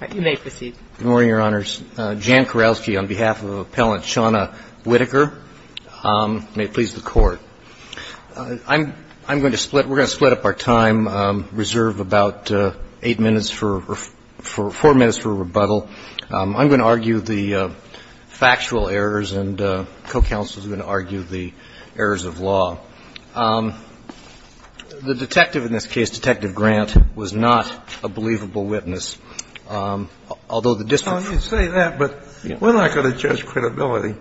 Good morning, Your Honors. Jan Kurowski on behalf of Appellant Shawna Whitaker. May it please the Court. I'm going to split, we're going to split up our time, reserve about 8 minutes for, 4 minutes for rebuttal. I'm going to argue the factual errors and co-counselors are going to argue the errors of law. The detective in this case, Detective Grant, was not a believable witness, although the district. You say that, but we're not going to judge credibility.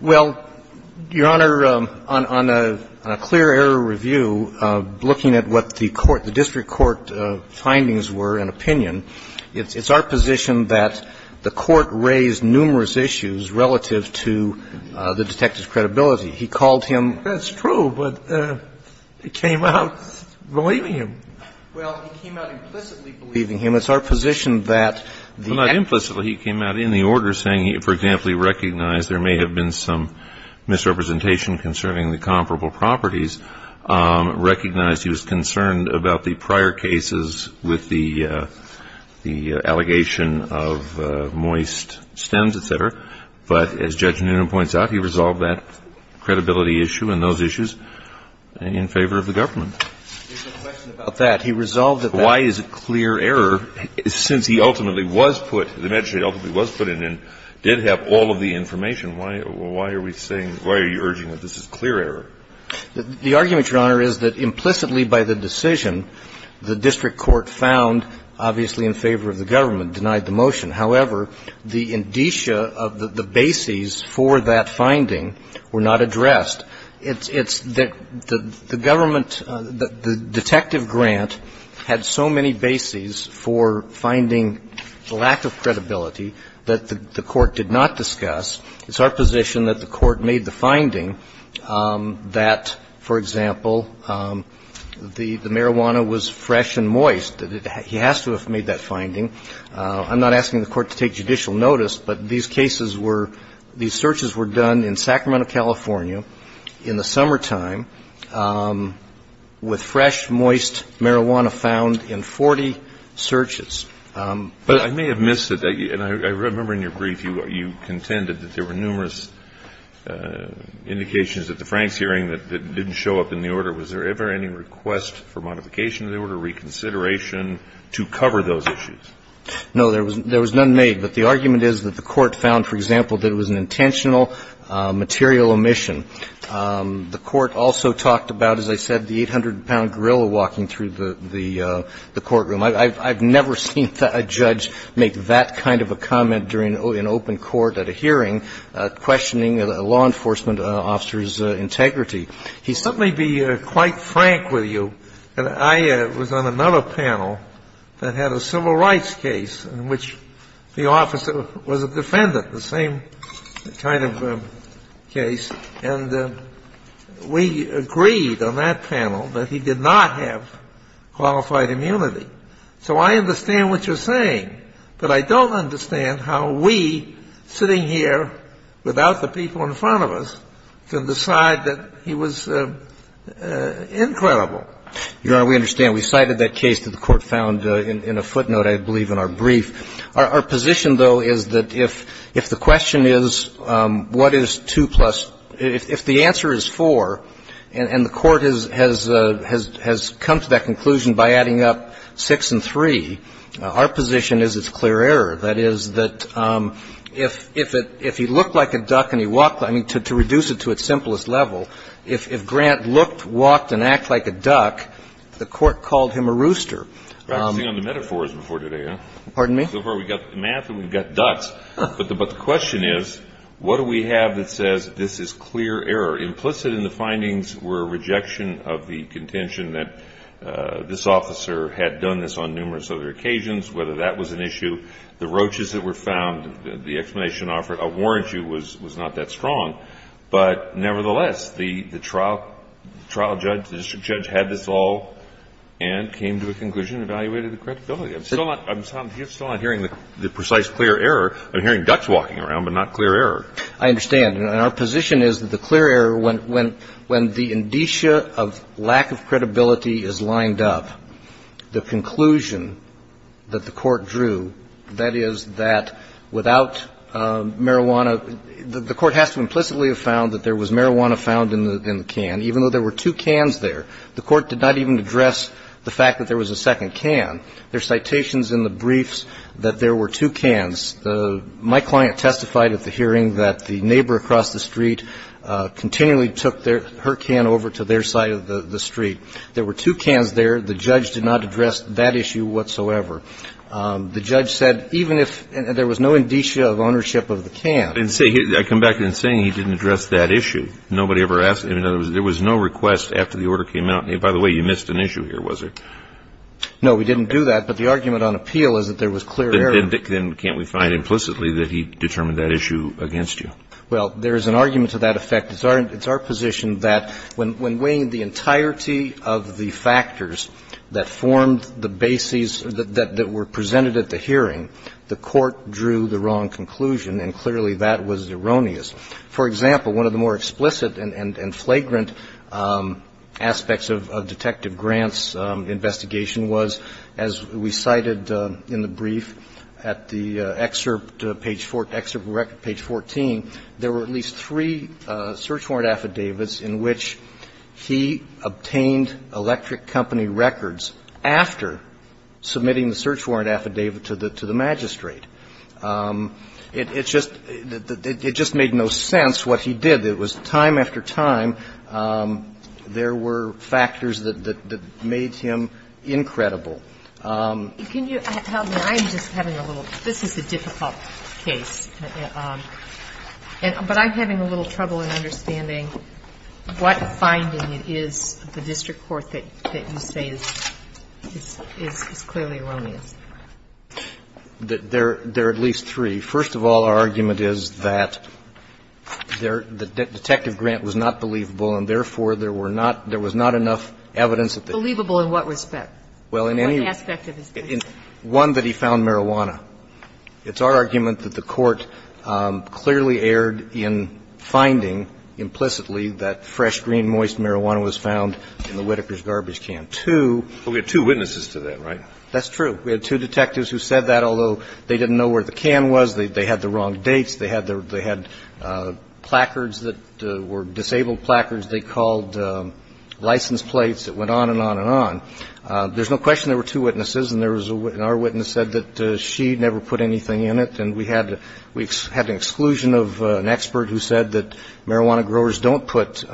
Well, Your Honor, on a clear error review, looking at what the court, the district court findings were and opinion, it's our position that the court raised numerous issues relative to the detective's credibility. He called him. I think that's true, but he came out believing him. Well, he came out implicitly believing him. It's our position that the attorney Not implicitly. He came out in the order saying, for example, he recognized there may have been some misrepresentation concerning the comparable properties, recognized he was concerned about the prior cases with the allegation of moist stems, et cetera. But as Judge Newman points out, he resolved that credibility issue and those issues in favor of the government. There's a question about that. He resolved that. Why is it clear error, since he ultimately was put, the magistrate ultimately was put in and did have all of the information, why are we saying, why are you urging that this is clear error? The argument, Your Honor, is that implicitly by the decision, the district court found obviously in favor of the government, denied the motion. However, the indicia of the bases for that finding were not addressed. It's that the government, the detective grant had so many bases for finding the lack of credibility that the court did not discuss. It's our position that the court made the finding that, for example, the marijuana was fresh and moist. He has to have made that finding. I'm not asking the court to take judicial notice, but these cases were, these searches were done in Sacramento, California in the summertime with fresh, moist marijuana found in 40 searches. But I may have missed it. I remember in your brief you contended that there were numerous indications at the Franks hearing that didn't show up in the order. Was there ever any request for modification of the order, reconsideration to cover those issues? No, there was none made. But the argument is that the court found, for example, that it was an intentional material omission. The court also talked about, as I said, the 800-pound gorilla walking through the courtroom. I've never seen a judge make that kind of a comment during an open court at a hearing questioning a law enforcement officer's integrity. He certainly would be quite frank with you. I was on another panel that had a civil rights case in which the officer was a defendant, the same kind of case. And we agreed on that panel that he did not have qualified immunity. So I understand what you're saying. But I don't understand how we, sitting here without the people in front of us, can decide that he was incredible. Your Honor, we understand. We cited that case that the court found in a footnote, I believe, in our brief. Our position, though, is that if the question is what is 2 plus – if the answer is 4 and the court has come to that conclusion by adding up 6 and 3, our position is it's clear error, that is, that if he looked like a duck and he walked – I mean, to reduce it to its simplest level, if Grant looked, walked, and acted like a duck, the court called him a rooster. I've seen all the metaphors before today, huh? Pardon me? So far we've got math and we've got ducks. But the question is what do we have that says this is clear error? Implicit in the findings were a rejection of the contention that this officer had done this on numerous other occasions, whether that was an issue. The roaches that were found, the explanation offered a warrant you was not that strong. But nevertheless, the trial judge, the district judge had this all and came to a conclusion, evaluated the credibility. I'm still not hearing the precise clear error. I'm hearing ducks walking around, but not clear error. I understand. And our position is that the clear error, when the indicia of lack of credibility is lined up, the conclusion that the court drew, that is, that without marijuana – the court has to implicitly have found that there was marijuana found in the can, even though there were two cans there. The court did not even address the fact that there was a second can. There are citations in the briefs that there were two cans. My client testified at the hearing that the neighbor across the street continually took her can over to their side of the street. There were two cans there. The judge did not address that issue whatsoever. The judge said even if – there was no indicia of ownership of the can. And say – I come back to him saying he didn't address that issue. Nobody ever asked him. In other words, there was no request after the order came out. And by the way, you missed an issue here, was there? No, we didn't do that. But the argument on appeal is that there was clear error. Then can't we find implicitly that he determined that issue against you? Well, there is an argument to that effect. It's our position that when weighing the entirety of the factors that formed the bases that were presented at the hearing, the court drew the wrong conclusion, and clearly that was erroneous. For example, one of the more explicit and flagrant aspects of Detective Grant's investigation was, as we cited in the brief at the excerpt, page 14, there were at least three search warrant affidavits in which he obtained electric company records after submitting the search warrant affidavit to the magistrate. It just made no sense what he did. It was time after time there were factors that made him incredible. Can you help me? I'm just having a little – this is a difficult case. But I'm having a little trouble in understanding what finding it is of the district court that you say is clearly erroneous. There are at least three. First of all, our argument is that Detective Grant was not believable, and therefore there were not – there was not enough evidence that they could prove that. Believable in what respect? In what aspect of his case? One, that he found marijuana. It's our argument that the Court clearly erred in finding implicitly that fresh, green, moist marijuana was found in the Whitaker's garbage can. Two – But we had two witnesses to that, right? That's true. We had two detectives who said that, although they didn't know where the can was. They had the wrong dates. They had the – they had placards that were disabled placards they called license plates that went on and on and on. There's no question there were two witnesses, and there was a – and our witness said that she never put anything in it. And we had an exclusion of an expert who said that marijuana growers don't put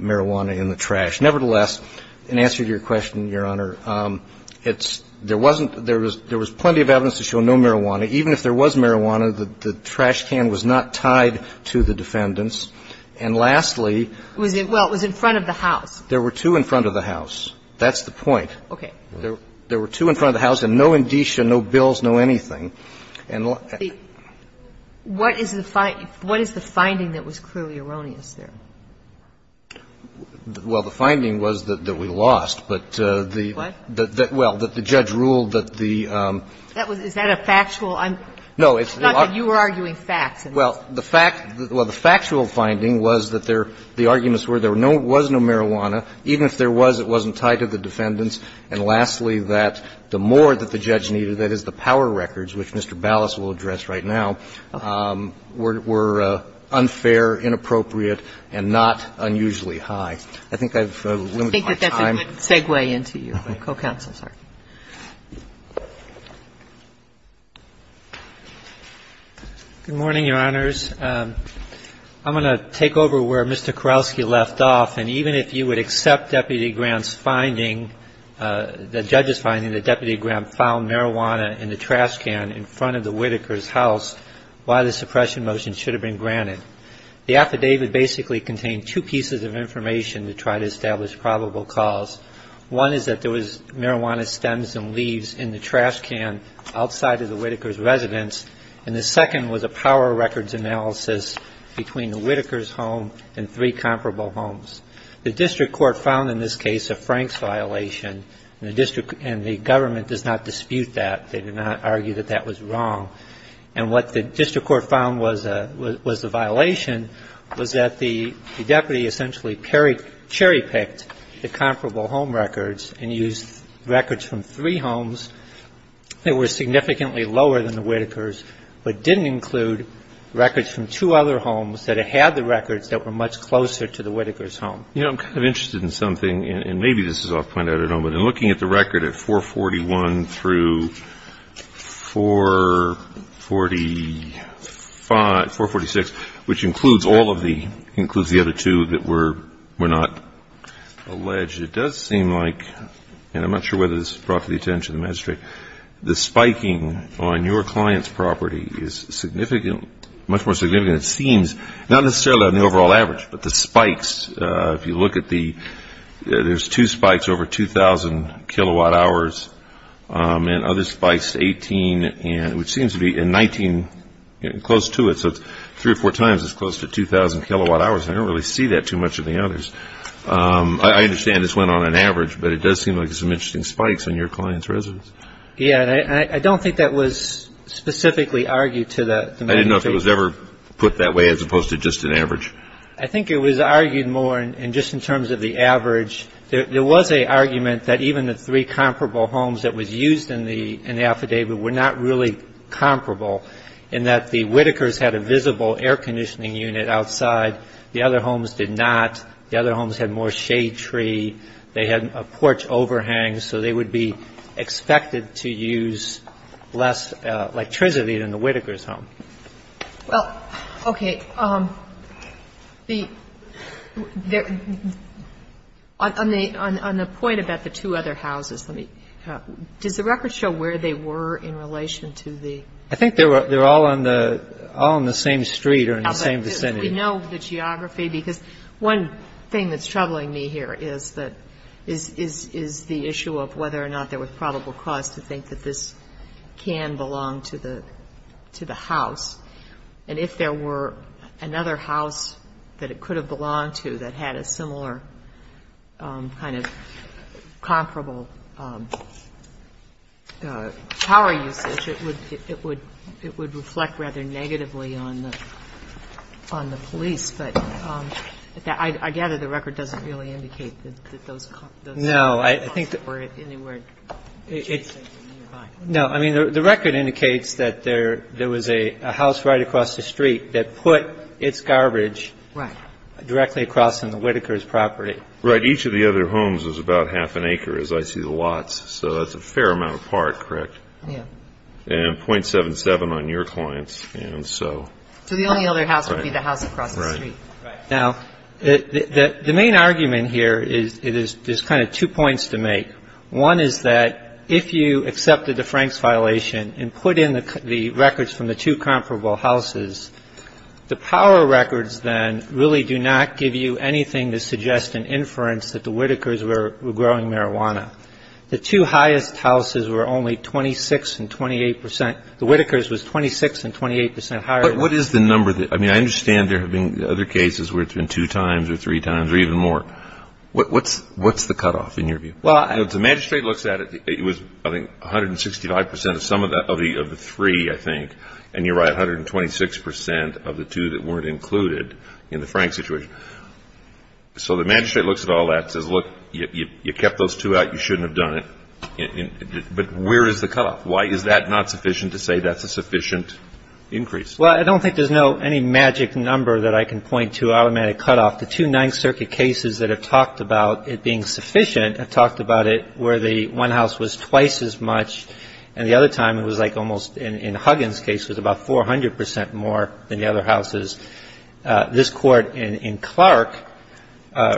marijuana in the trash. Nevertheless, in answer to your question, Your Honor, it's – there wasn't – there was plenty of evidence to show no marijuana. Even if there was marijuana, the trash can was not tied to the defendants. And lastly – Well, it was in front of the house. There were two in front of the house. That's the point. Okay. There were two in front of the house and no indicia, no bills, no anything. And – What is the – what is the finding that was clearly erroneous there? Well, the finding was that we lost, but the – What? Well, that the judge ruled that the – That was – is that a factual – No, it's – It's not that you were arguing facts. Well, the fact – well, the factual finding was that there – the arguments were there was no marijuana. Even if there was, it wasn't tied to the defendants. And lastly, that the more that the judge needed, that is, the power records, which Mr. Ballas will address right now, were unfair, inappropriate, and not unusually high. I think I've limited my time. I think that that's a good segue into you, co-counsel. Good morning, Your Honors. I'm going to take over where Mr. Kowalski left off. And even if you would accept Deputy Grant's finding, the judge's finding, that Deputy Grant found marijuana in the trash can in front of the Whitaker's house, why the suppression motion should have been granted. The affidavit basically contained two pieces of information to try to establish probable cause. One is that there was marijuana stems and leaves in the trash can outside of the Whitaker's house. The other piece of information is that the district court found in this case a Frank's violation, and the district – and the government does not dispute that. They do not argue that that was wrong. And what the district court found was a – was a violation was that the deputy essentially cherry-picked the comparable home records and used records from three homes that were significantly lower than the Whitaker's but didn't include records from two other homes that had the records that were much closer to the Whitaker's home. You know, I'm kind of interested in something, and maybe this is off-point, I don't know, but in looking at the record at 441 through 445 – 446, which includes all of the – includes the other two that were not alleged, it does seem like, and I'm not sure whether this is brought to the attention of the magistrate, the spiking on the – much more significant, it seems, not necessarily on the overall average, but the spikes. If you look at the – there's two spikes over 2,000 kilowatt hours, and other spikes, 18 and – which seems to be – and 19 close to it, so three or four times it's close to 2,000 kilowatt hours, and I don't really see that too much in the others. I understand this went on an average, but it does seem like there's some interesting spikes on your client's residence. Yeah, and I don't think that was specifically argued to the – I didn't know if it was ever put that way as opposed to just an average. I think it was argued more in – just in terms of the average. There was an argument that even the three comparable homes that was used in the affidavit were not really comparable, in that the Whitakers had a visible air conditioning unit outside. The other homes did not. The other homes had more shade tree. They had a porch overhang, so they would be expected to use less electricity than the Whitakers' home. Well, okay. The – on the point about the two other houses, let me – does the record show where they were in relation to the – I think they were all on the – all on the same street or in the same vicinity. We know the geography, because one thing that's troubling me here is that – is the issue of whether or not there was probable cause to think that this can belong to the – to the house. And if there were another house that it could have belonged to that had a similar kind of comparable power usage, it would – it would – it would reflect rather negatively on the – on the police. But I gather the record doesn't really indicate that those – I think that – Or anywhere adjacent or nearby. No. I mean, the record indicates that there was a house right across the street that put its garbage directly across from the Whitakers' property. Right. Each of the other homes was about half an acre, as I see the lots. So that's a fair amount apart, correct? Yeah. And .77 on your clients. And so – So the only other house would be the house across the street. Right. Right. Now, the main argument here is – there's kind of two points to make. One is that if you accepted the Franks violation and put in the records from the two comparable houses, the power records then really do not give you anything to suggest an inference that the Whitakers were growing marijuana. The two highest houses were only 26 and 28 percent. The Whitakers was 26 and 28 percent higher. But what is the number that – I mean, I understand there have been other cases where it's been two times or three times or even more. What's the cutoff in your view? Well – The magistrate looks at it. It was, I think, 165 percent of some of the three, I think. And you're right, 126 percent of the two that weren't included in the Franks situation. So the magistrate looks at all that and says, look, you kept those two out. You shouldn't have done it. But where is the cutoff? Why is that not sufficient to say that's a sufficient increase? Well, I don't think there's any magic number that I can point to automatic cutoff. The two Ninth Circuit cases that have talked about it being sufficient have talked about it where the one house was twice as much, and the other time it was like almost in Huggins' case was about 400 percent more than the other houses. This Court in Clark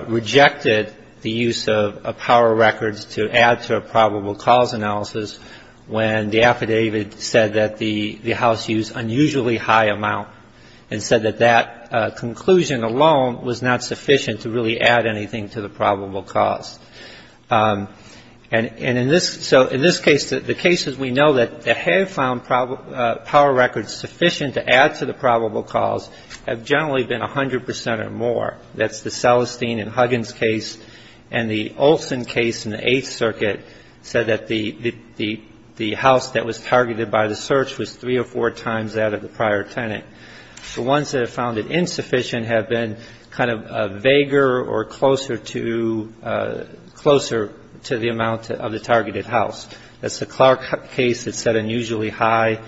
rejected the use of power records to add to a probable cause analysis when the affidavit said that the house used unusually high amount and said that that conclusion alone was not sufficient to really add anything to the probable cause. And in this – so in this case, the cases we know that have found power records sufficient to add to the probable cause have generally been 100 percent or more. That's the Celestine and Huggins case. And the Olson case in the Eighth Circuit said that the house that was targeted by the search was three or four times that of the prior tenant. The ones that have found it insufficient have been kind of vaguer or closer to – closer to the amount of the targeted house. That's the Clark case that said unusually high.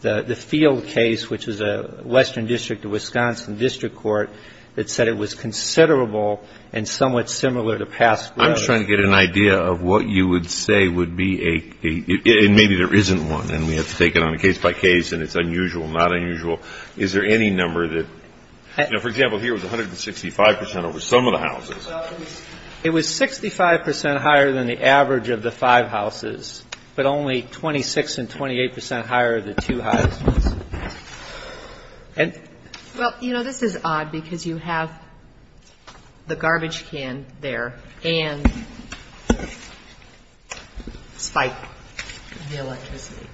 The Field case, which is a western district of Wisconsin district court, that said it was considerable and somewhat similar to past growth. I'm trying to get an idea of what you would say would be a – and maybe there isn't one and we have to take it on a case-by-case and it's unusual, not unusual. Is there any number that – you know, for example, here it was 165 percent over some of the houses. Well, it was 65 percent higher than the average of the five houses, but only 26 and 28 percent higher than two houses. And – Well, you know, this is odd because you have the garbage can there and spike in the electricity.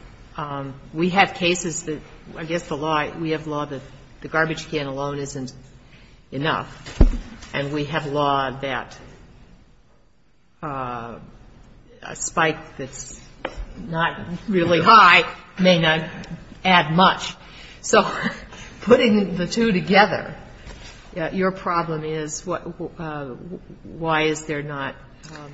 We have cases that I guess the law – we have law that the garbage can alone isn't enough. And we have law that a spike that's not really high may not add much. So putting the two together, your problem is what – why is there not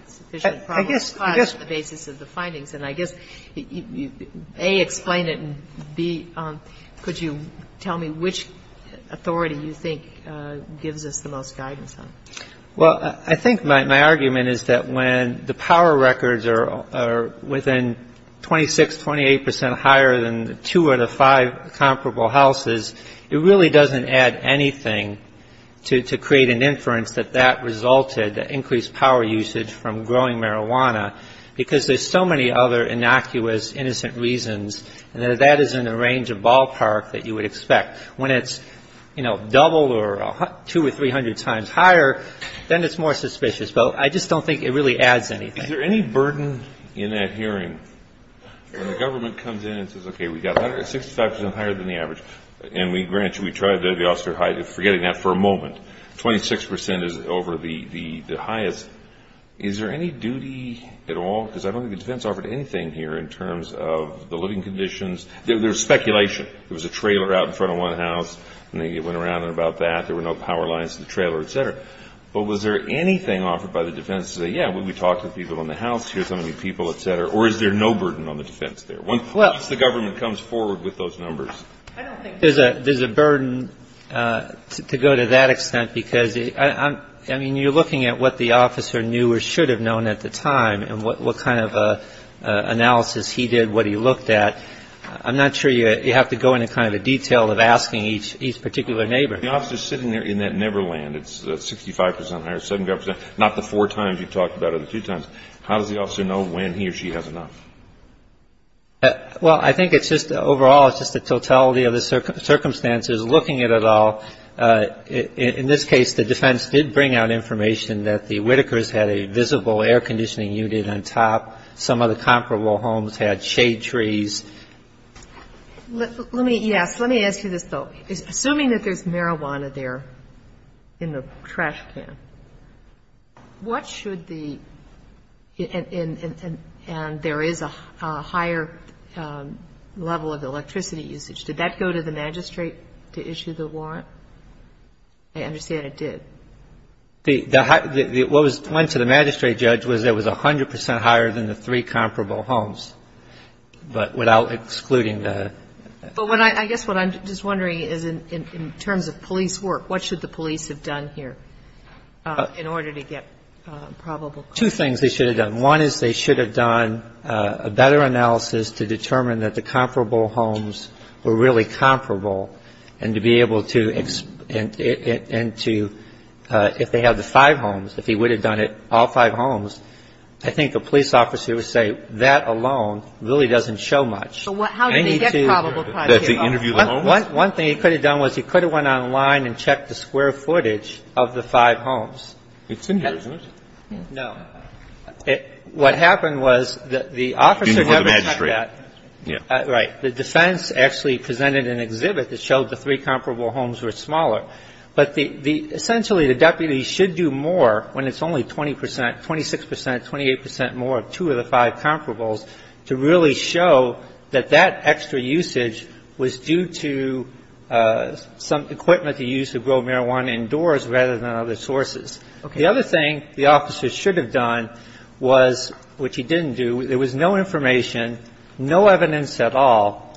sufficient problem to podge the basis of the findings. And I guess you A, explain it, and B, could you tell me which authority you think gives us the most guidance on. Well, I think my argument is that when the power records are within 26, 28 percent higher than two out of five comparable houses, it really doesn't add anything to create an inference that that resulted, that increased power usage from growing marijuana, because there's so many other innocuous, innocent reasons, and that isn't a range of ballpark that you would expect. When it's, you know, double or two or three hundred times higher, then it's more suspicious. But I just don't think it really adds anything. Is there any burden in that hearing when the government comes in and says, okay, we've got 65 percent higher than the average, and we grant you we tried to – the officer – forgetting that for a moment, 26 percent is over the highest, is there any duty at all? Because I don't think the defense offered anything here in terms of the living conditions. There's speculation. There was a trailer out in front of one house, and they went around and about that. There were no power lines to the trailer, et cetera. But was there anything offered by the defense to say, yeah, we talked to people in the house, here's how many people, et cetera, or is there no burden on the defense there? Once the government comes forward with those numbers. There's a burden to go to that extent because, I mean, you're looking at what the officer knew or should have known at the time and what kind of analysis he did, what he looked at. I'm not sure you have to go into kind of the detail of asking each particular neighbor. The officer's sitting there in that Neverland. It's 65 percent higher, 75 percent – not the four times you talked about it, the two times. How does the officer know when he or she has enough? Well, I think it's just – overall, it's just the totality of the circumstances. Looking at it all, in this case, the defense did bring out information that the Whitakers had a visible air conditioning unit on top. Some of the comparable homes had shade trees. Let me – yes, let me ask you this, though. Assuming that there's marijuana there in the trash can, what should the – and there is a higher level of electricity usage. Did that go to the magistrate to issue the warrant? I understand it did. The – what went to the magistrate judge was it was 100 percent higher than the three comparable homes, but without excluding the – But when I – I guess what I'm just wondering is in terms of police work, what should the police have done here in order to get probable cause? Two things they should have done. One is they should have done a better analysis to determine that the comparable homes were really comparable and to be able to – and to – if they have the five homes, if he would have done it, all five homes. I think the police officer would say that alone really doesn't show much. But how did they get probable cause here? That's the interview alone? One thing he could have done was he could have went online and checked the square footage of the five homes. It's in here, isn't it? What happened was the officer never checked that. Didn't go to the magistrate. Right. The defense actually presented an exhibit that showed the three comparable homes were smaller. But the – essentially the deputies should do more when it's only 20 percent, 26 percent, 28 percent more of two of the five comparables to really show that that extra usage was due to some equipment to use to grow marijuana indoors rather than other sources. Okay. The other thing the officer should have done was, which he didn't do, there was no information, no evidence at all,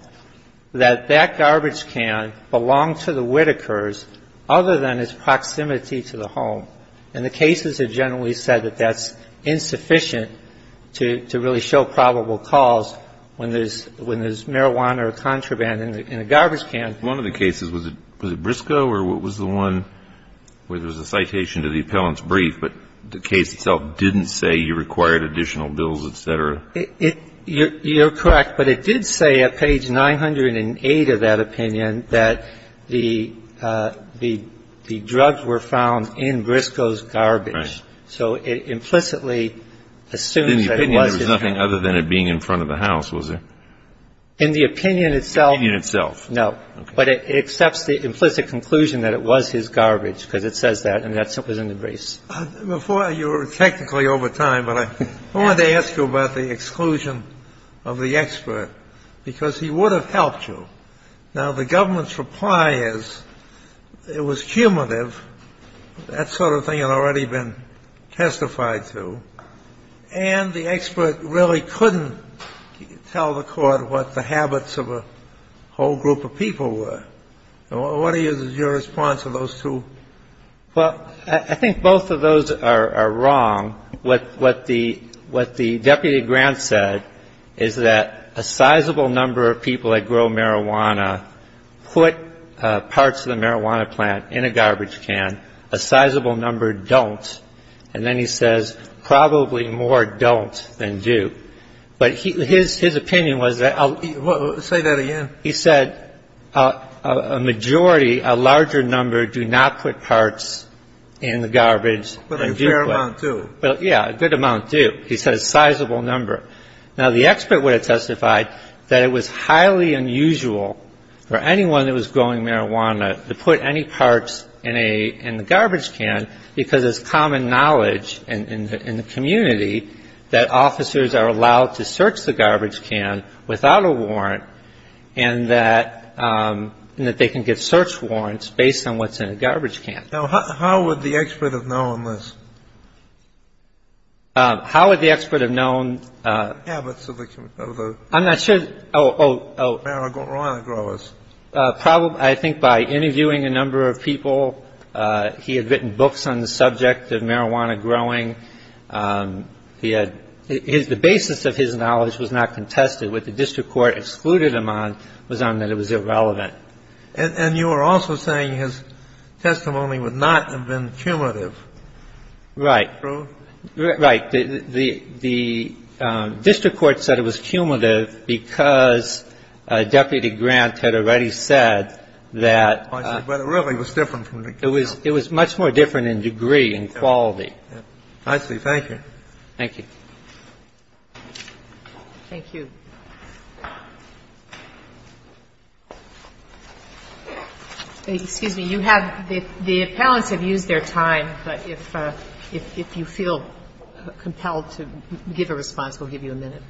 that that garbage can belonged to the Whitakers other than its proximity to the home. And the cases have generally said that that's insufficient to really show probable cause when there's marijuana or contraband in a garbage can. One of the cases, was it Briscoe or was it the one where there was a citation to the appellant's brief but the case itself didn't say you required additional bills, et cetera? You're correct. But it did say at page 908 of that opinion that the drugs were found in Briscoe's garbage. Right. So it implicitly assumes that it was his garbage. In the opinion there was nothing other than it being in front of the house, was there? In the opinion itself. In the opinion itself. No. Okay. But it accepts the implicit conclusion that it was his garbage because it says that it was found in Briscoe's garbage. And that's what was in the briefs. Before you were technically over time, but I wanted to ask you about the exclusion of the expert, because he would have helped you. Now, the government's reply is it was cumulative. That sort of thing had already been testified to. And the expert really couldn't tell the Court what the habits of a whole group of people were. What is your response to those two? Well, I think both of those are wrong. What the deputy grant said is that a sizable number of people that grow marijuana put parts of the marijuana plant in a garbage can. A sizable number don't. And then he says probably more don't than do. But his opinion was that he said. A majority, a larger number, do not put parts in the garbage. But a fair amount do. Yeah, a good amount do. He says sizable number. Now, the expert would have testified that it was highly unusual for anyone that was growing marijuana to put any parts in the garbage can because it's common knowledge in the community that officers are allowed to search the garbage can without a warrant and that they can get search warrants based on what's in a garbage can. Now, how would the expert have known this? How would the expert have known? Habits of the marijuana growers. I think by interviewing a number of people. He had written books on the subject of marijuana growing. The basis of his knowledge was not contested. What the district court excluded him on was on that it was irrelevant. And you were also saying his testimony would not have been cumulative. Right. True? Right. The district court said it was cumulative because Deputy Grant had already said that. But it really was different. It was much more different in degree and quality. I see. Thank you. Thank you. Thank you. Excuse me. You have the appellants have used their time. But if you feel compelled to give a response, we'll give you a minute.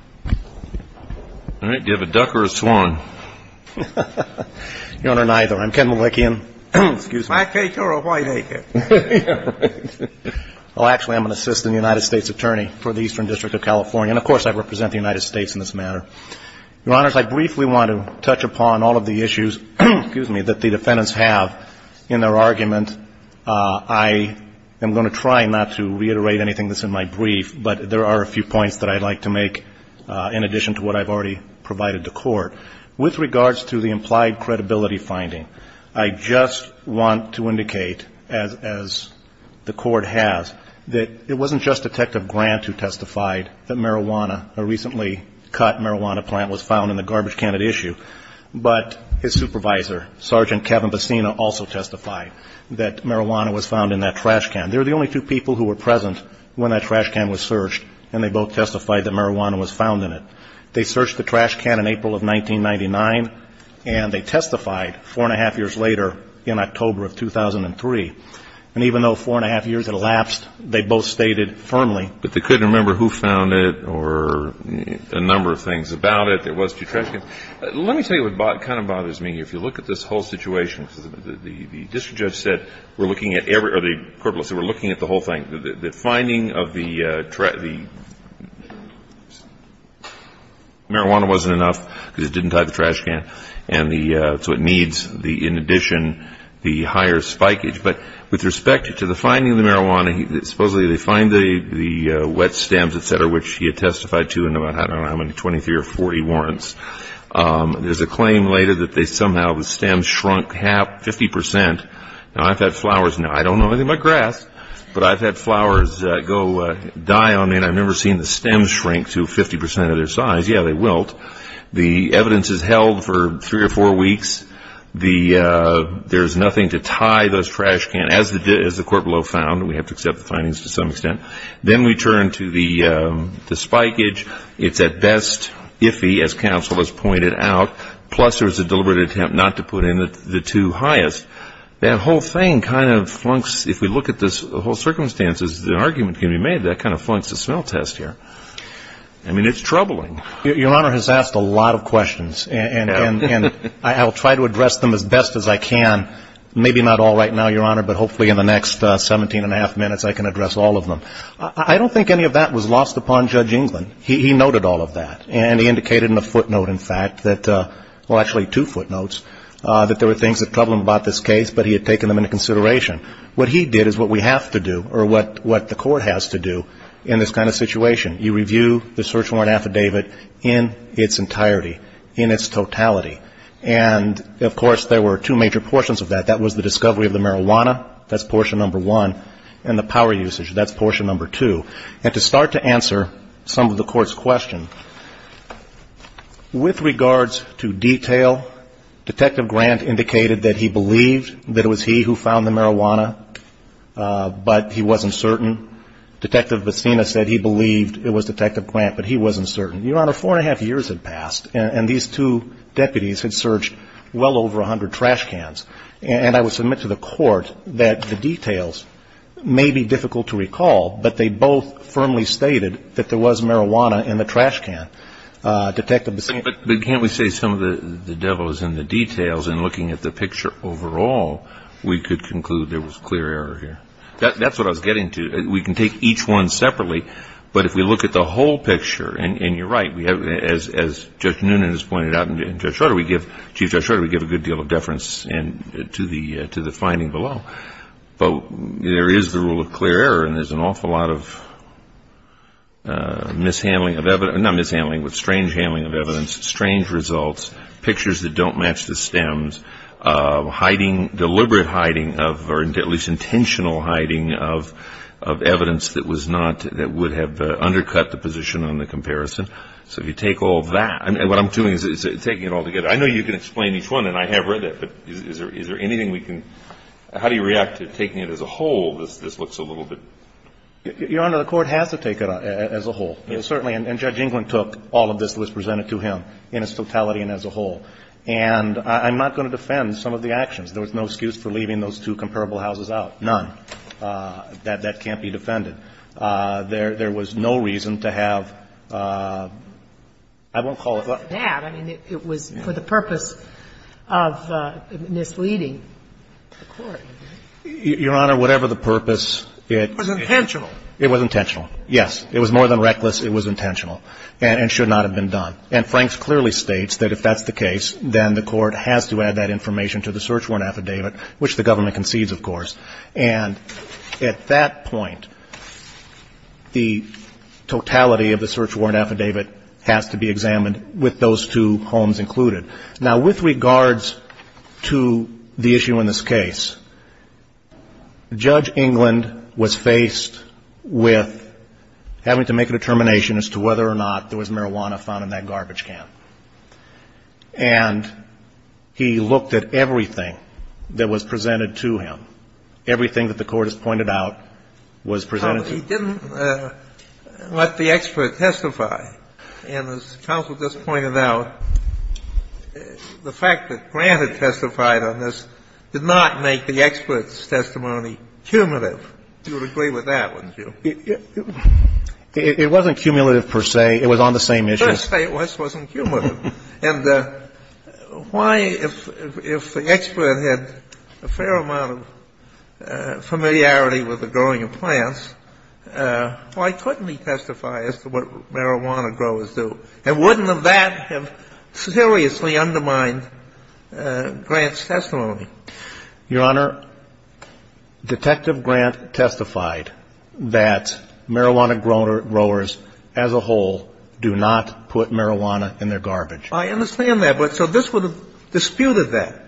All right. Do you have a duck or a swan? Your Honor, neither. I'm Ken Malikian. Excuse me. Well, actually, I'm an assistant United States attorney for the Eastern District of California. And, of course, I represent the United States in this matter. Your Honor, I briefly want to touch upon all of the issues that the defendants have in their argument. I am going to try not to reiterate anything that's in my brief. But there are a few points that I'd like to make in addition to what I've already provided to court. With regards to the implied credibility finding, I just want to indicate, as the court has, that it wasn't just Detective Grant who testified that marijuana, a recently cut marijuana plant, was found in the garbage can at issue, but his supervisor, Sergeant Kevin Bacina, also testified that marijuana was found in that trash can. They were the only two people who were present when that trash can was searched, and they both testified that marijuana was found in it. They searched the trash can in April of 1999, and they testified four-and-a-half years later in October of 2003. And even though four-and-a-half years had elapsed, they both stated firmly. But they couldn't remember who found it or a number of things about it that was to the trash can. Let me tell you what kind of bothers me here. If you look at this whole situation, the district judge said we're looking at every or the corporal said we're looking at the whole thing. The finding of the marijuana wasn't enough because it didn't tie the trash can and so it needs, in addition, the higher spikeage. But with respect to the finding of the marijuana, supposedly they find the wet stems, et cetera, which he had testified to in about, I don't know how many, 23 or 40 warrants. There's a claim later that somehow the stems shrunk 50%. Now, I've had flowers now. I don't know anything about grass, but I've had flowers go die on me, and I've never seen the stems shrink to 50% of their size. Yeah, they wilt. The evidence is held for three or four weeks. There's nothing to tie those trash cans, as the corporal found. We have to accept the findings to some extent. Then we turn to the spikeage. It's at best iffy, as counsel has pointed out, plus there's a deliberate attempt not to put in the two highest. That whole thing kind of flunks, if we look at the whole circumstances, the argument can be made that kind of flunks the smell test here. I mean, it's troubling. Your Honor has asked a lot of questions, and I'll try to address them as best as I can. Maybe not all right now, Your Honor, but hopefully in the next 17 and a half minutes I can address all of them. I don't think any of that was lost upon Judge England. He noted all of that, and he indicated in a footnote, in fact, that – well, actually two footnotes – that there were things that troubled him about this case, but he had taken them into consideration. What he did is what we have to do, or what the court has to do in this kind of situation. You review the search warrant affidavit in its entirety, in its totality. And, of course, there were two major portions of that. That was the discovery of the marijuana. That's portion number one. And the power usage, that's portion number two. And to start to answer some of the Court's question, with regards to detail, Detective Grant indicated that he believed that it was he who found the marijuana, but he wasn't certain. Detective Bacena said he believed it was Detective Grant, but he wasn't certain. Your Honor, four and a half years had passed, and these two deputies had searched well over 100 trash cans. And I would submit to the Court that the details may be difficult to recall, but they both firmly stated that there was marijuana in the trash can. Detective Bacena – But can't we say some of the devil is in the details? In looking at the picture overall, we could conclude there was clear error here. That's what I was getting to. We can take each one separately. But if we look at the whole picture, and you're right, as Judge Noonan has pointed out and Chief Judge Shorter, we give a good deal of deference to the finding below. But there is the rule of clear error, and there's an awful lot of strange handling of evidence, strange results, pictures that don't match the stems, deliberate hiding of, or at least intentional hiding of evidence that was not – that would have undercut the position on the comparison. So if you take all that – and what I'm doing is taking it all together. I know you can explain each one, and I have read it, but is there anything we can – how do you react to taking it as a whole? This looks a little bit – Your Honor, the Court has to take it as a whole. Certainly. And Judge Englund took all of this that was presented to him in its totality and as a whole. And I'm not going to defend some of the actions. There was no excuse for leaving those two comparable houses out. None. That can't be defended. There was no reason to have – I won't call it that. I mean, it was for the purpose of misleading the Court. Your Honor, whatever the purpose, it – It was intentional. It was intentional, yes. It was more than reckless. It was intentional and should not have been done. And Franks clearly states that if that's the case, then the Court has to add that information to the search warrant affidavit, which the government concedes, of course. And at that point, the totality of the search warrant affidavit has to be examined with those two homes included. Now, with regards to the issue in this case, Judge Englund was faced with having to make a determination as to whether or not there was marijuana found in that garbage can. And he looked at everything that was presented to him. Everything that the Court has pointed out was presented to him. But he didn't let the expert testify. And as counsel just pointed out, the fact that Grant had testified on this did not make the expert's testimony cumulative. You would agree with that, wouldn't you? It wasn't cumulative per se. It was on the same issue. Well, let's just say it was. It wasn't cumulative. And why, if the expert had a fair amount of familiarity with the growing of plants, why couldn't he testify as to what marijuana growers do? And wouldn't that have seriously undermined Grant's testimony? Your Honor, Detective Grant testified that marijuana growers as a whole do not put marijuana in their garbage. I understand that. But so this would have disputed that.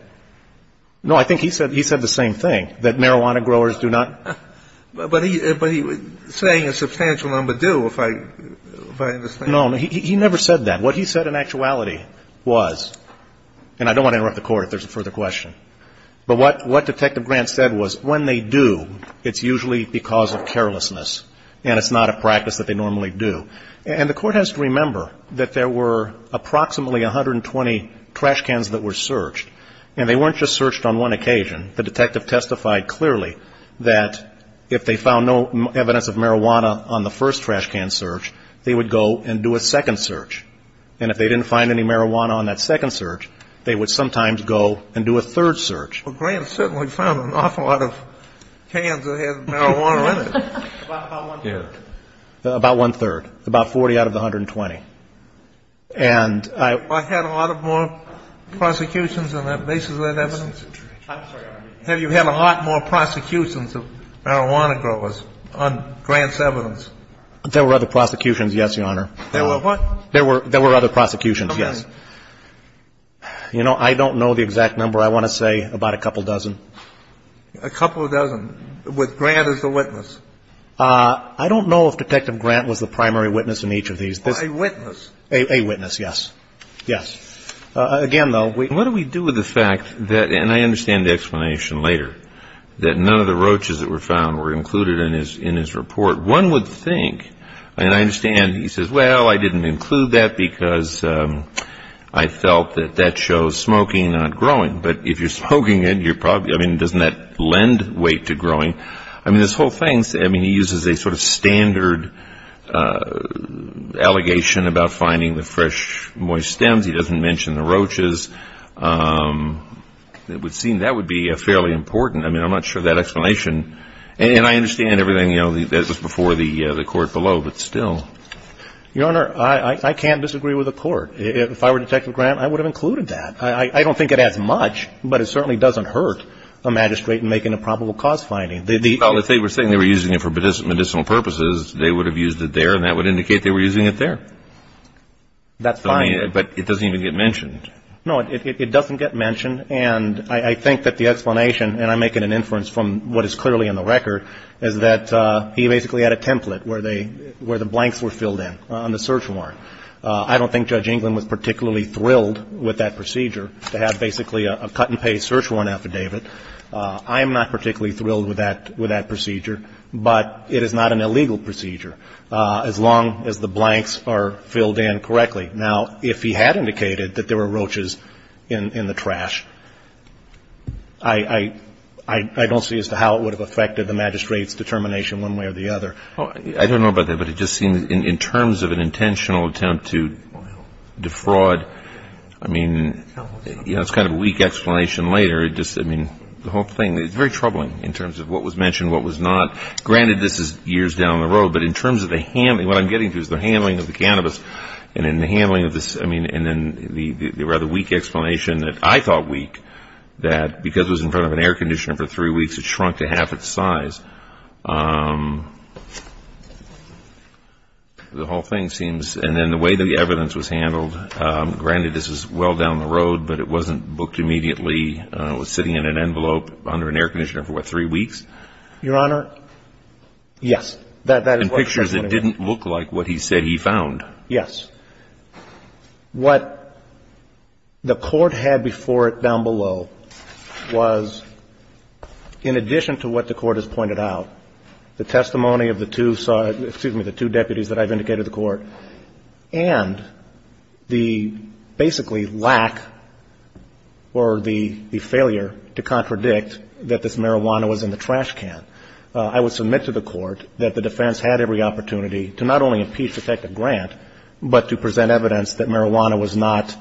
No. I think he said the same thing, that marijuana growers do not. But he was saying a substantial number do, if I understand. No. He never said that. What he said in actuality was, and I don't want to interrupt the Court if there's a further question, but what Detective Grant said was when they do, it's usually because of carelessness, and it's not a practice that they normally do. And the Court has to remember that there were approximately 120 trash cans that were searched, and they weren't just searched on one occasion. The detective testified clearly that if they found no evidence of marijuana on the first trash can search, they would go and do a second search. And if they didn't find any marijuana on that second search, they would sometimes go and do a third search. Well, Grant certainly found an awful lot of cans that had marijuana in it. About one-third. About one-third. About 40 out of the 120. And I had a lot more prosecutions on the basis of that evidence. I'm sorry. Have you had a lot more prosecutions of marijuana growers on Grant's evidence? There were other prosecutions, yes, Your Honor. There were what? There were other prosecutions, yes. Okay. You know, I don't know the exact number. I want to say about a couple dozen. A couple dozen, with Grant as the witness? I don't know if Detective Grant was the primary witness in each of these. A witness. A witness, yes. Yes. Again, though. What do we do with the fact that, and I understand the explanation later, that none of the roaches that were found were included in his report? One would think, and I understand he says, well, I didn't include that because I felt that that shows smoking, not growing. But if you're smoking it, you're probably, I mean, doesn't that lend weight to growing? I mean, this whole thing, I mean, he uses a sort of standard allegation about finding the fresh, moist stems. He doesn't mention the roaches. It would seem that would be fairly important. I mean, I'm not sure of that explanation. And I understand everything that was before the court below, but still. Your Honor, I can't disagree with the court. If I were Detective Grant, I would have included that. I don't think it adds much, but it certainly doesn't hurt a magistrate in making a probable cause finding. Well, if they were saying they were using it for medicinal purposes, they would have used it there, and that would indicate they were using it there. That's fine. No, it doesn't get mentioned. And I think that the explanation, and I make it an inference from what is clearly in the record, is that he basically had a template where the blanks were filled in on the search warrant. I don't think Judge England was particularly thrilled with that procedure, to have basically a cut-and-paste search warrant affidavit. I am not particularly thrilled with that procedure, but it is not an illegal procedure, as long as the blanks are filled in correctly. Now, if he had indicated that there were roaches in the trash, I don't see as to how it would have affected the magistrate's determination one way or the other. I don't know about that, but it just seems, in terms of an intentional attempt to defraud, I mean, you know, it's kind of a weak explanation later. It just, I mean, the whole thing, it's very troubling in terms of what was mentioned, what was not. Granted, this is years down the road, but in terms of the handling, what I'm getting to is the handling of the cannabis, and in the handling of this, I mean, and then the rather weak explanation that I thought weak, that because it was in front of an air conditioner for three weeks, it shrunk to half its size. The whole thing seems, and then the way that the evidence was handled, granted this is well down the road, but it wasn't booked immediately. It was sitting in an envelope under an air conditioner for, what, three weeks? Your Honor, yes. In pictures, it didn't look like what he said he found. Yes. What the Court had before it down below was, in addition to what the Court has pointed out, the testimony of the two, excuse me, the two deputies that I've indicated to the Court, and the basically lack or the failure to contradict that this marijuana was in the trash can. I would submit to the Court that the defense had every opportunity to not only impeach Detective Grant, but to present evidence that marijuana was not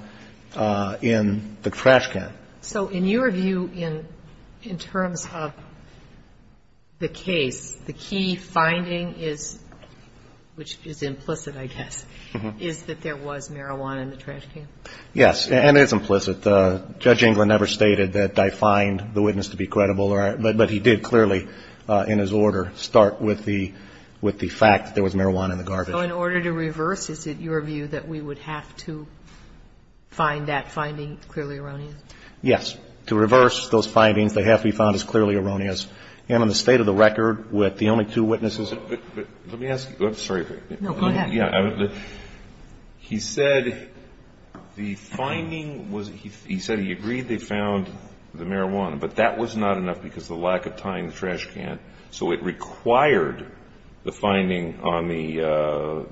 in the trash can. So in your view, in terms of the case, the key finding is, which is implicit, I guess, is that there was marijuana in the trash can? Yes, and it's implicit. I'm sorry. It's implicit. Judge Englund never stated that I find the witness to be credible, but he did clearly in his order start with the fact that there was marijuana in the garbage. So in order to reverse, is it your view that we would have to find that finding clearly erroneous? Yes. To reverse those findings, they have to be found as clearly erroneous. And on the state of the record, with the only two witnesses that we have. Let me ask you. I'm sorry. No, go ahead. He said the finding was, he said he agreed they found the marijuana, but that was not enough because of the lack of time in the trash can. So it required the finding on the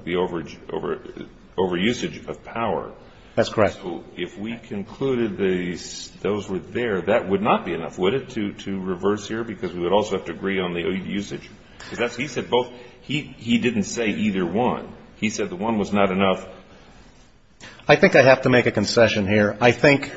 overusage of power. That's correct. So if we concluded that those were there, that would not be enough, would it, to reverse here? Because we would also have to agree on the usage. Because he said both, he didn't say either one. He said the one was not enough. I think I have to make a concession here. I think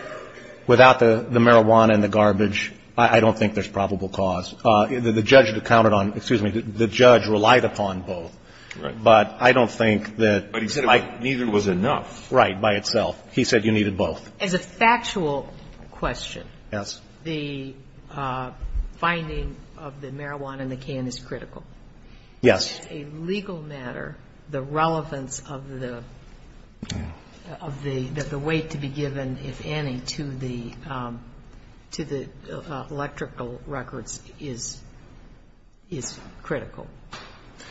without the marijuana and the garbage, I don't think there's probable cause. The judge counted on, excuse me, the judge relied upon both. Right. But I don't think that. But he said neither was enough. Right, by itself. He said you needed both. As a factual question. Yes. The finding of the marijuana in the can is critical. Yes. As a legal matter, the relevance of the, of the, that the weight to be given, if any, to the, to the electrical records is, is critical.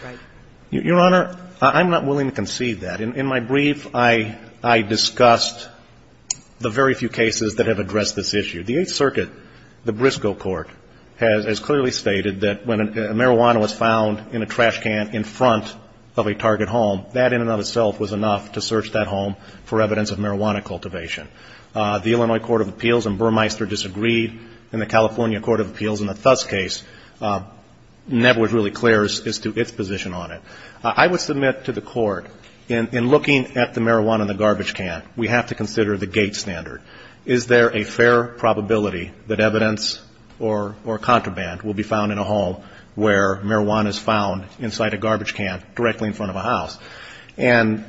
Right. Your Honor, I'm not willing to concede that. In my brief, I, I discussed the very few cases that have addressed this issue. The Eighth Circuit, the Briscoe Court, has, has clearly stated that when a marijuana was found in a trash can in front of a target home, that in and of itself was enough to search that home for evidence of marijuana cultivation. The Illinois Court of Appeals and Burmeister disagreed. And the California Court of Appeals in the Thus case never was really clear as to its position on it. I would submit to the Court, in, in looking at the marijuana and the garbage can, we have to consider the gate standard. Is there a fair probability that evidence or, or contraband will be found in a home where marijuana is found inside a garbage can directly in front of a house? And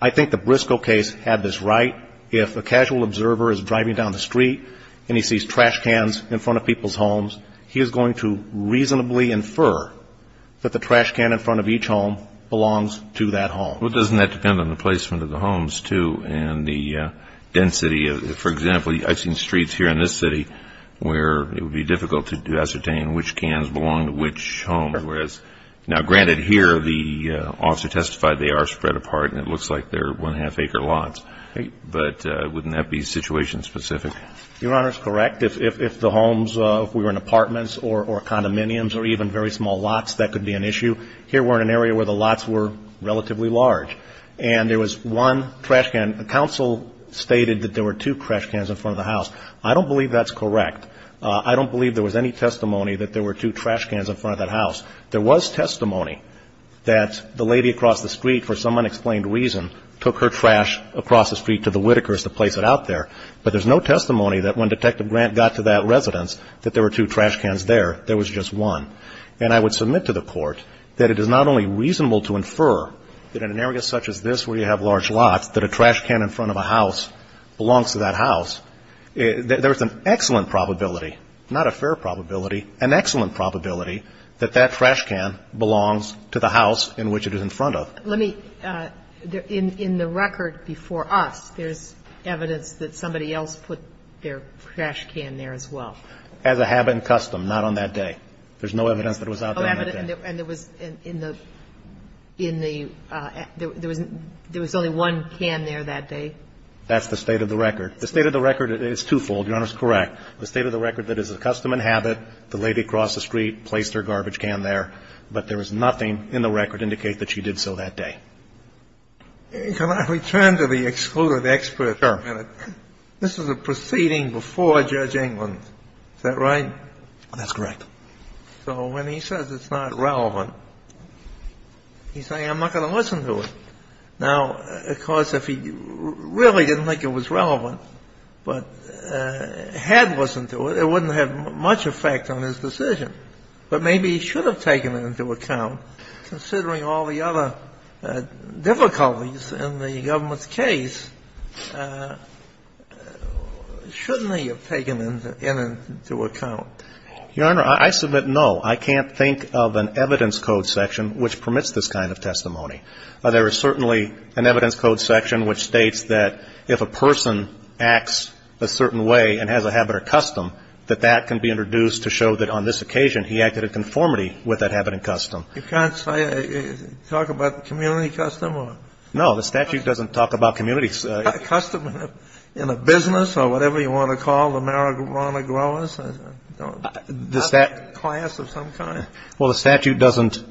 I think the Briscoe case had this right. If a casual observer is driving down the street and he sees trash cans in front of people's homes, he is going to reasonably infer that the trash can in front of each home belongs to that home. Well, doesn't that depend on the placement of the homes, too, and the density? For example, I've seen streets here in this city where it would be difficult to ascertain which cans belong to which home, whereas, now, granted, here the officer testified they are spread apart and it looks like they're one-half acre lots. But wouldn't that be situation specific? Your Honor is correct. If, if, if the homes, if we were in apartments or, or condominiums or even very small lots, that could be an issue. Here we're in an area where the lots were relatively large. And there was one trash can. Counsel stated that there were two trash cans in front of the house. I don't believe that's correct. I don't believe there was any testimony that there were two trash cans in front of that house. There was testimony that the lady across the street, for some unexplained reason, took her trash across the street to the Whitakers to place it out there. But there's no testimony that when Detective Grant got to that residence that there were two trash cans there. There was just one. And I would submit to the Court that it is not only reasonable to infer that in an area such as this where you have large lots, that a trash can in front of a house belongs to that house. There's an excellent probability, not a fair probability, an excellent probability that that trash can belongs to the house in which it is in front of. Let me, in, in the record before us, there's evidence that somebody else put their trash can there as well. As I have in custom. Not on that day. There's no evidence that it was out there on that day. And there was in the, in the, there was only one can there that day? That's the state of the record. The state of the record is twofold. Your Honor is correct. The state of the record that is a custom and habit, the lady crossed the street, placed her garbage can there. But there is nothing in the record to indicate that she did so that day. Can I return to the excluded expert for a minute? Sure. This was a proceeding before Judge England. Is that right? That's correct. So when he says it's not relevant, he's saying I'm not going to listen to it. Now, of course, if he really didn't think it was relevant, but had listened to it, it wouldn't have much effect on his decision. But maybe he should have taken it into account, considering all the other difficulties in the government's case. Shouldn't he have taken it into account? Your Honor, I submit no. I can't think of an evidence code section which permits this kind of testimony. There is certainly an evidence code section which states that if a person acts a certain way and has a habit or custom, that that can be introduced to show that on this occasion he acted in conformity with that habit and custom. You can't say, talk about community custom or? No, the statute doesn't talk about community. It's custom in a business or whatever you want to call it, the marijuana growers, the class of some kind. Well, the statute doesn't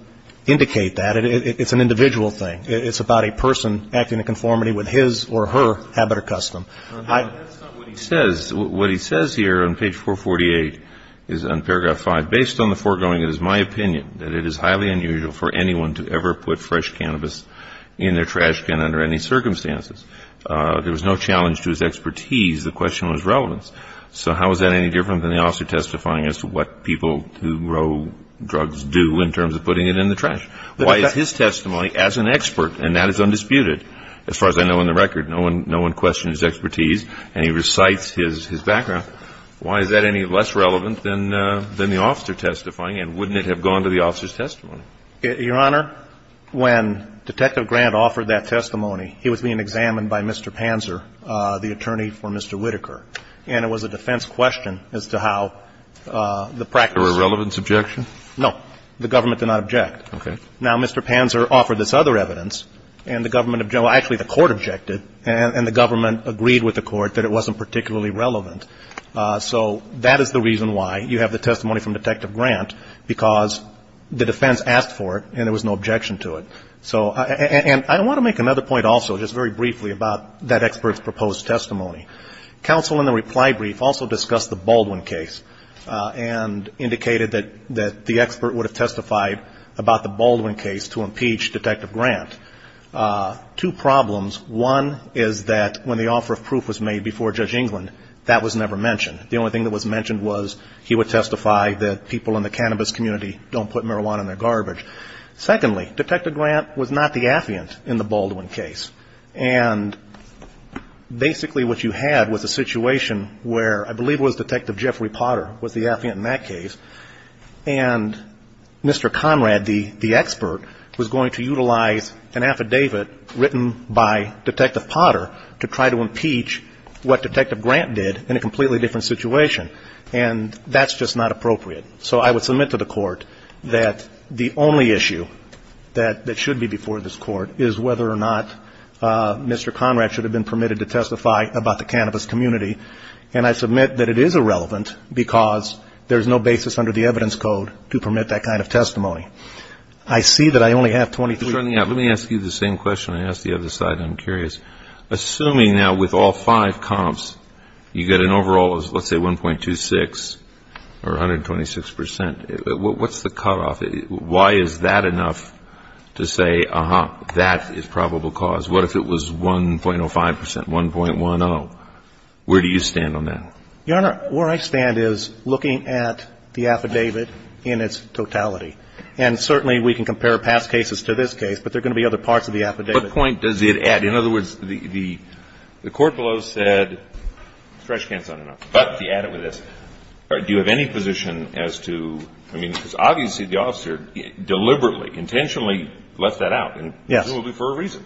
indicate that. It's an individual thing. It's about a person acting in conformity with his or her habit or custom. That's not what he says. What he says here on page 448 is on paragraph 5. Based on the foregoing, it is my opinion that it is highly unusual for anyone to ever put fresh cannabis in their trash can under any circumstances. There was no challenge to his expertise. The question was relevance. So how is that any different than the officer testifying as to what people who grow drugs do in terms of putting it in the trash? Why is his testimony, as an expert, and that is undisputed, as far as I know in the record, no one questioned his expertise, and he recites his background. Why is that any less relevant than the officer testifying? And wouldn't it have gone to the officer's testimony? Your Honor, when Detective Grant offered that testimony, he was being examined by Mr. Panzer, the attorney for Mr. Whitaker. And it was a defense question as to how the practice of the government did not object. Okay. Now, Mr. Panzer offered this other evidence, and the government objected. Well, actually, the court objected, and the government agreed with the court that it wasn't particularly relevant. So that is the reason why you have the testimony from Detective Grant, because the defense asked for it and there was no objection to it. And I want to make another point also, just very briefly, about that expert's proposed testimony. Counsel in the reply brief also discussed the Baldwin case and indicated that the expert would have testified about the Baldwin case to impeach Detective Grant. Two problems. One is that when the offer of proof was made before Judge England, that was never mentioned. The only thing that was mentioned was he would testify that people in the cannabis community don't put marijuana in their garbage. Secondly, Detective Grant was not the affiant in the Baldwin case. And basically what you had was a situation where I believe it was Detective Jeffrey Potter was the affiant in that case. And Mr. Conrad, the expert, was going to utilize an affidavit written by Detective Potter to try to impeach what Detective Grant did in a completely different situation. And that's just not appropriate. So I would submit to the court that the only issue that should be before this court is whether or not Mr. Conrad should have been permitted to testify about the cannabis community. And I submit that it is irrelevant because there's no basis under the evidence code to permit that kind of testimony. I see that I only have 23 minutes. Let me ask you the same question I asked the other side. I'm curious. Assuming now with all five comps, you get an overall of, let's say, 1.26 or 126 percent, what's the cutoff? Why is that enough to say, uh-huh, that is probable cause? What if it was 1.05 percent, 1.10? I don't know. Where do you stand on that? Your Honor, where I stand is looking at the affidavit in its totality. And certainly we can compare past cases to this case, but there are going to be other parts of the affidavit. What point does it add? In other words, the court below said stretch can't sound enough. But to add it with this, do you have any position as to, I mean, because obviously the officer deliberately, intentionally left that out. Yes. And presumably for a reason.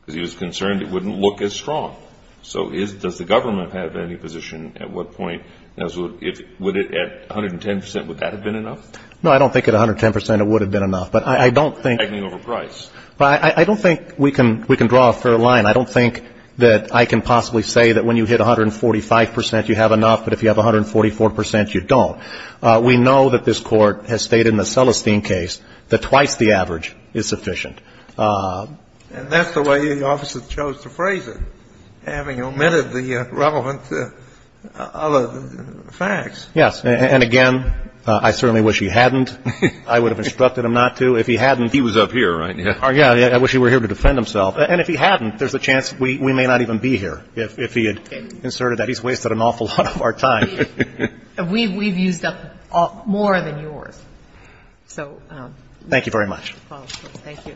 Because he was concerned it wouldn't look as strong. So does the government have any position at what point, would it at 110 percent, would that have been enough? No, I don't think at 110 percent it would have been enough. But I don't think we can draw a fair line. I don't think that I can possibly say that when you hit 145 percent, you have enough, but if you have 144 percent, you don't. We know that this Court has stated in the Celestine case that twice the average is sufficient. And that's the way the officer chose to phrase it, having omitted the relevant other facts. Yes. And again, I certainly wish he hadn't. I would have instructed him not to. If he hadn't. He was up here, right? Yes. I wish he were here to defend himself. And if he hadn't, there's a chance we may not even be here. If he had inserted that, he's wasted an awful lot of our time. We've used up more than yours. So. Thank you very much. Thank you.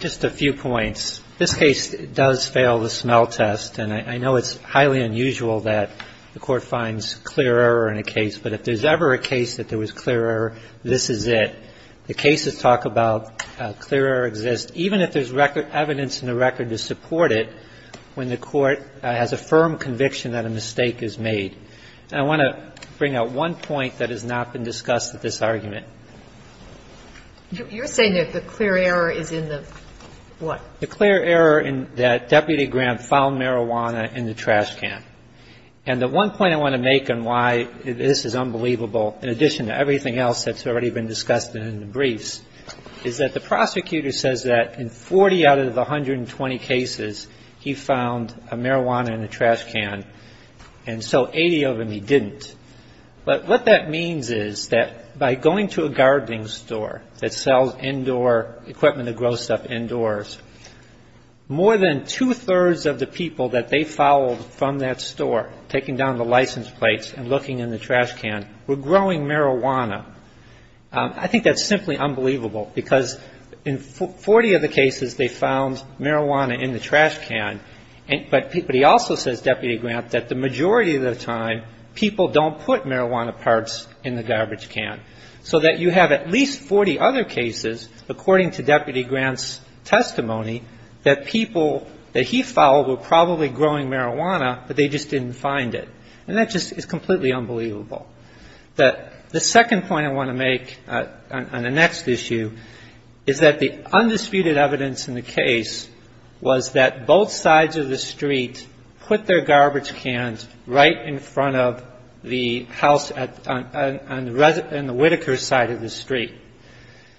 Just a few points. This case does fail the smell test, and I know it's highly unusual that the Court finds clear error in a case, but if there's ever a case that there was clear error, this is it. The cases talk about how clear error exists, even if there's record evidence in the record to support it, when the Court has a firm conviction that a mistake is made. And I want to bring out one point that has not been discussed at this argument. You're saying that the clear error is in the what? The clear error in that Deputy Graham found marijuana in the trash can. And the one point I want to make on why this is unbelievable, in addition to everything else that's already been discussed in the briefs, is that the prosecutor says that in 40 out of the 120 cases, he found marijuana in the trash can. And so 80 of them he didn't. But what that means is that by going to a gardening store that sells indoor equipment to grow stuff indoors, more than two-thirds of the people that they followed from that store, taking down the license plates and looking in the trash can, were growing marijuana. I think that's simply unbelievable, because in 40 of the cases they found marijuana in the trash can. But he also says, Deputy Grant, that the majority of the time people don't put marijuana parts in the garbage can. So that you have at least 40 other cases, according to Deputy Grant's testimony, that people that he followed were probably growing marijuana, but they just didn't find it. And that just is completely unbelievable. The second point I want to make on the next issue is that the undisputed evidence in the case was that both sides of the street put their garbage cans right in front of the house on the Whittaker side of the street.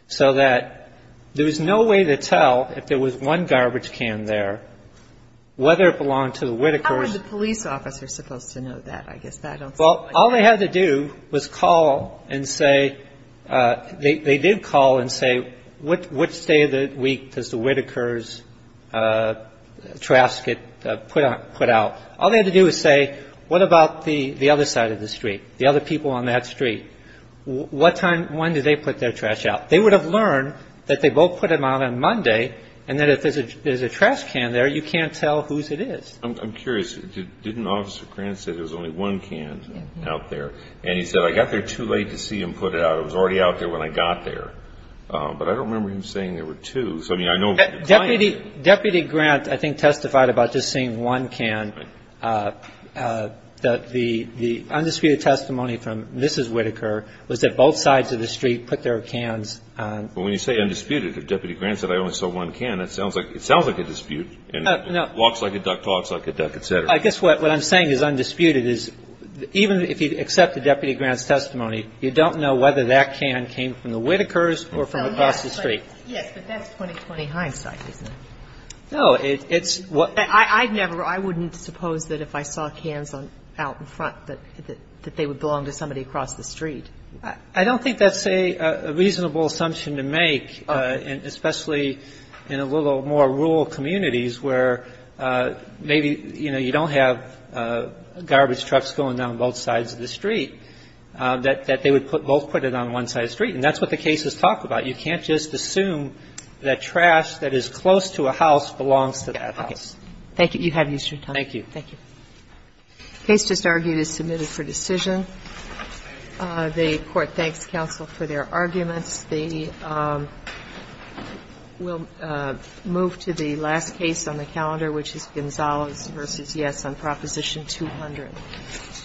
So that there was no way to tell if there was one garbage can there, whether it belonged to the Whittakers. How would the police officer supposed to know that? I guess that I don't see. Well, all they had to do was call and say, they did call and say, which day of the week does the Whittakers' trash get put out? All they had to do was say, what about the other side of the street? The other people on that street? What time, when do they put their trash out? They would have learned that they both put them out on Monday, and that if there's a trash can there, you can't tell whose it is. I'm curious. Didn't Officer Grant say there was only one can out there? And he said, I got there too late to see him put it out. It was already out there when I got there. But I don't remember him saying there were two. Deputy Grant, I think, testified about just seeing one can. The undisputed testimony from Mrs. Whittaker was that both sides of the street put their cans. When you say undisputed, if Deputy Grant said I only saw one can, it sounds like a dispute. It walks like a duck, talks like a duck, et cetera. I guess what I'm saying is undisputed. Even if you accept the Deputy Grant's testimony, you don't know whether that can came from the Whittakers or from across the street. Yes, but that's 20-20 hindsight, isn't it? No, it's what ---- I'd never ---- I wouldn't suppose that if I saw cans out in front that they would belong to somebody across the street. I don't think that's a reasonable assumption to make, especially in a little more rural communities where maybe, you know, you don't have garbage trucks going down both sides of the street. And that's what the case has talked about. You can't just assume that trash that is close to a house belongs to that house. Thank you. You have your time. Thank you. Thank you. The case just argued is submitted for decision. The Court thanks counsel for their arguments. We'll move to the last case on the calendar, which is Gonzalez v. Yes on Proposition 200. Thank you. Thank you. Thank you.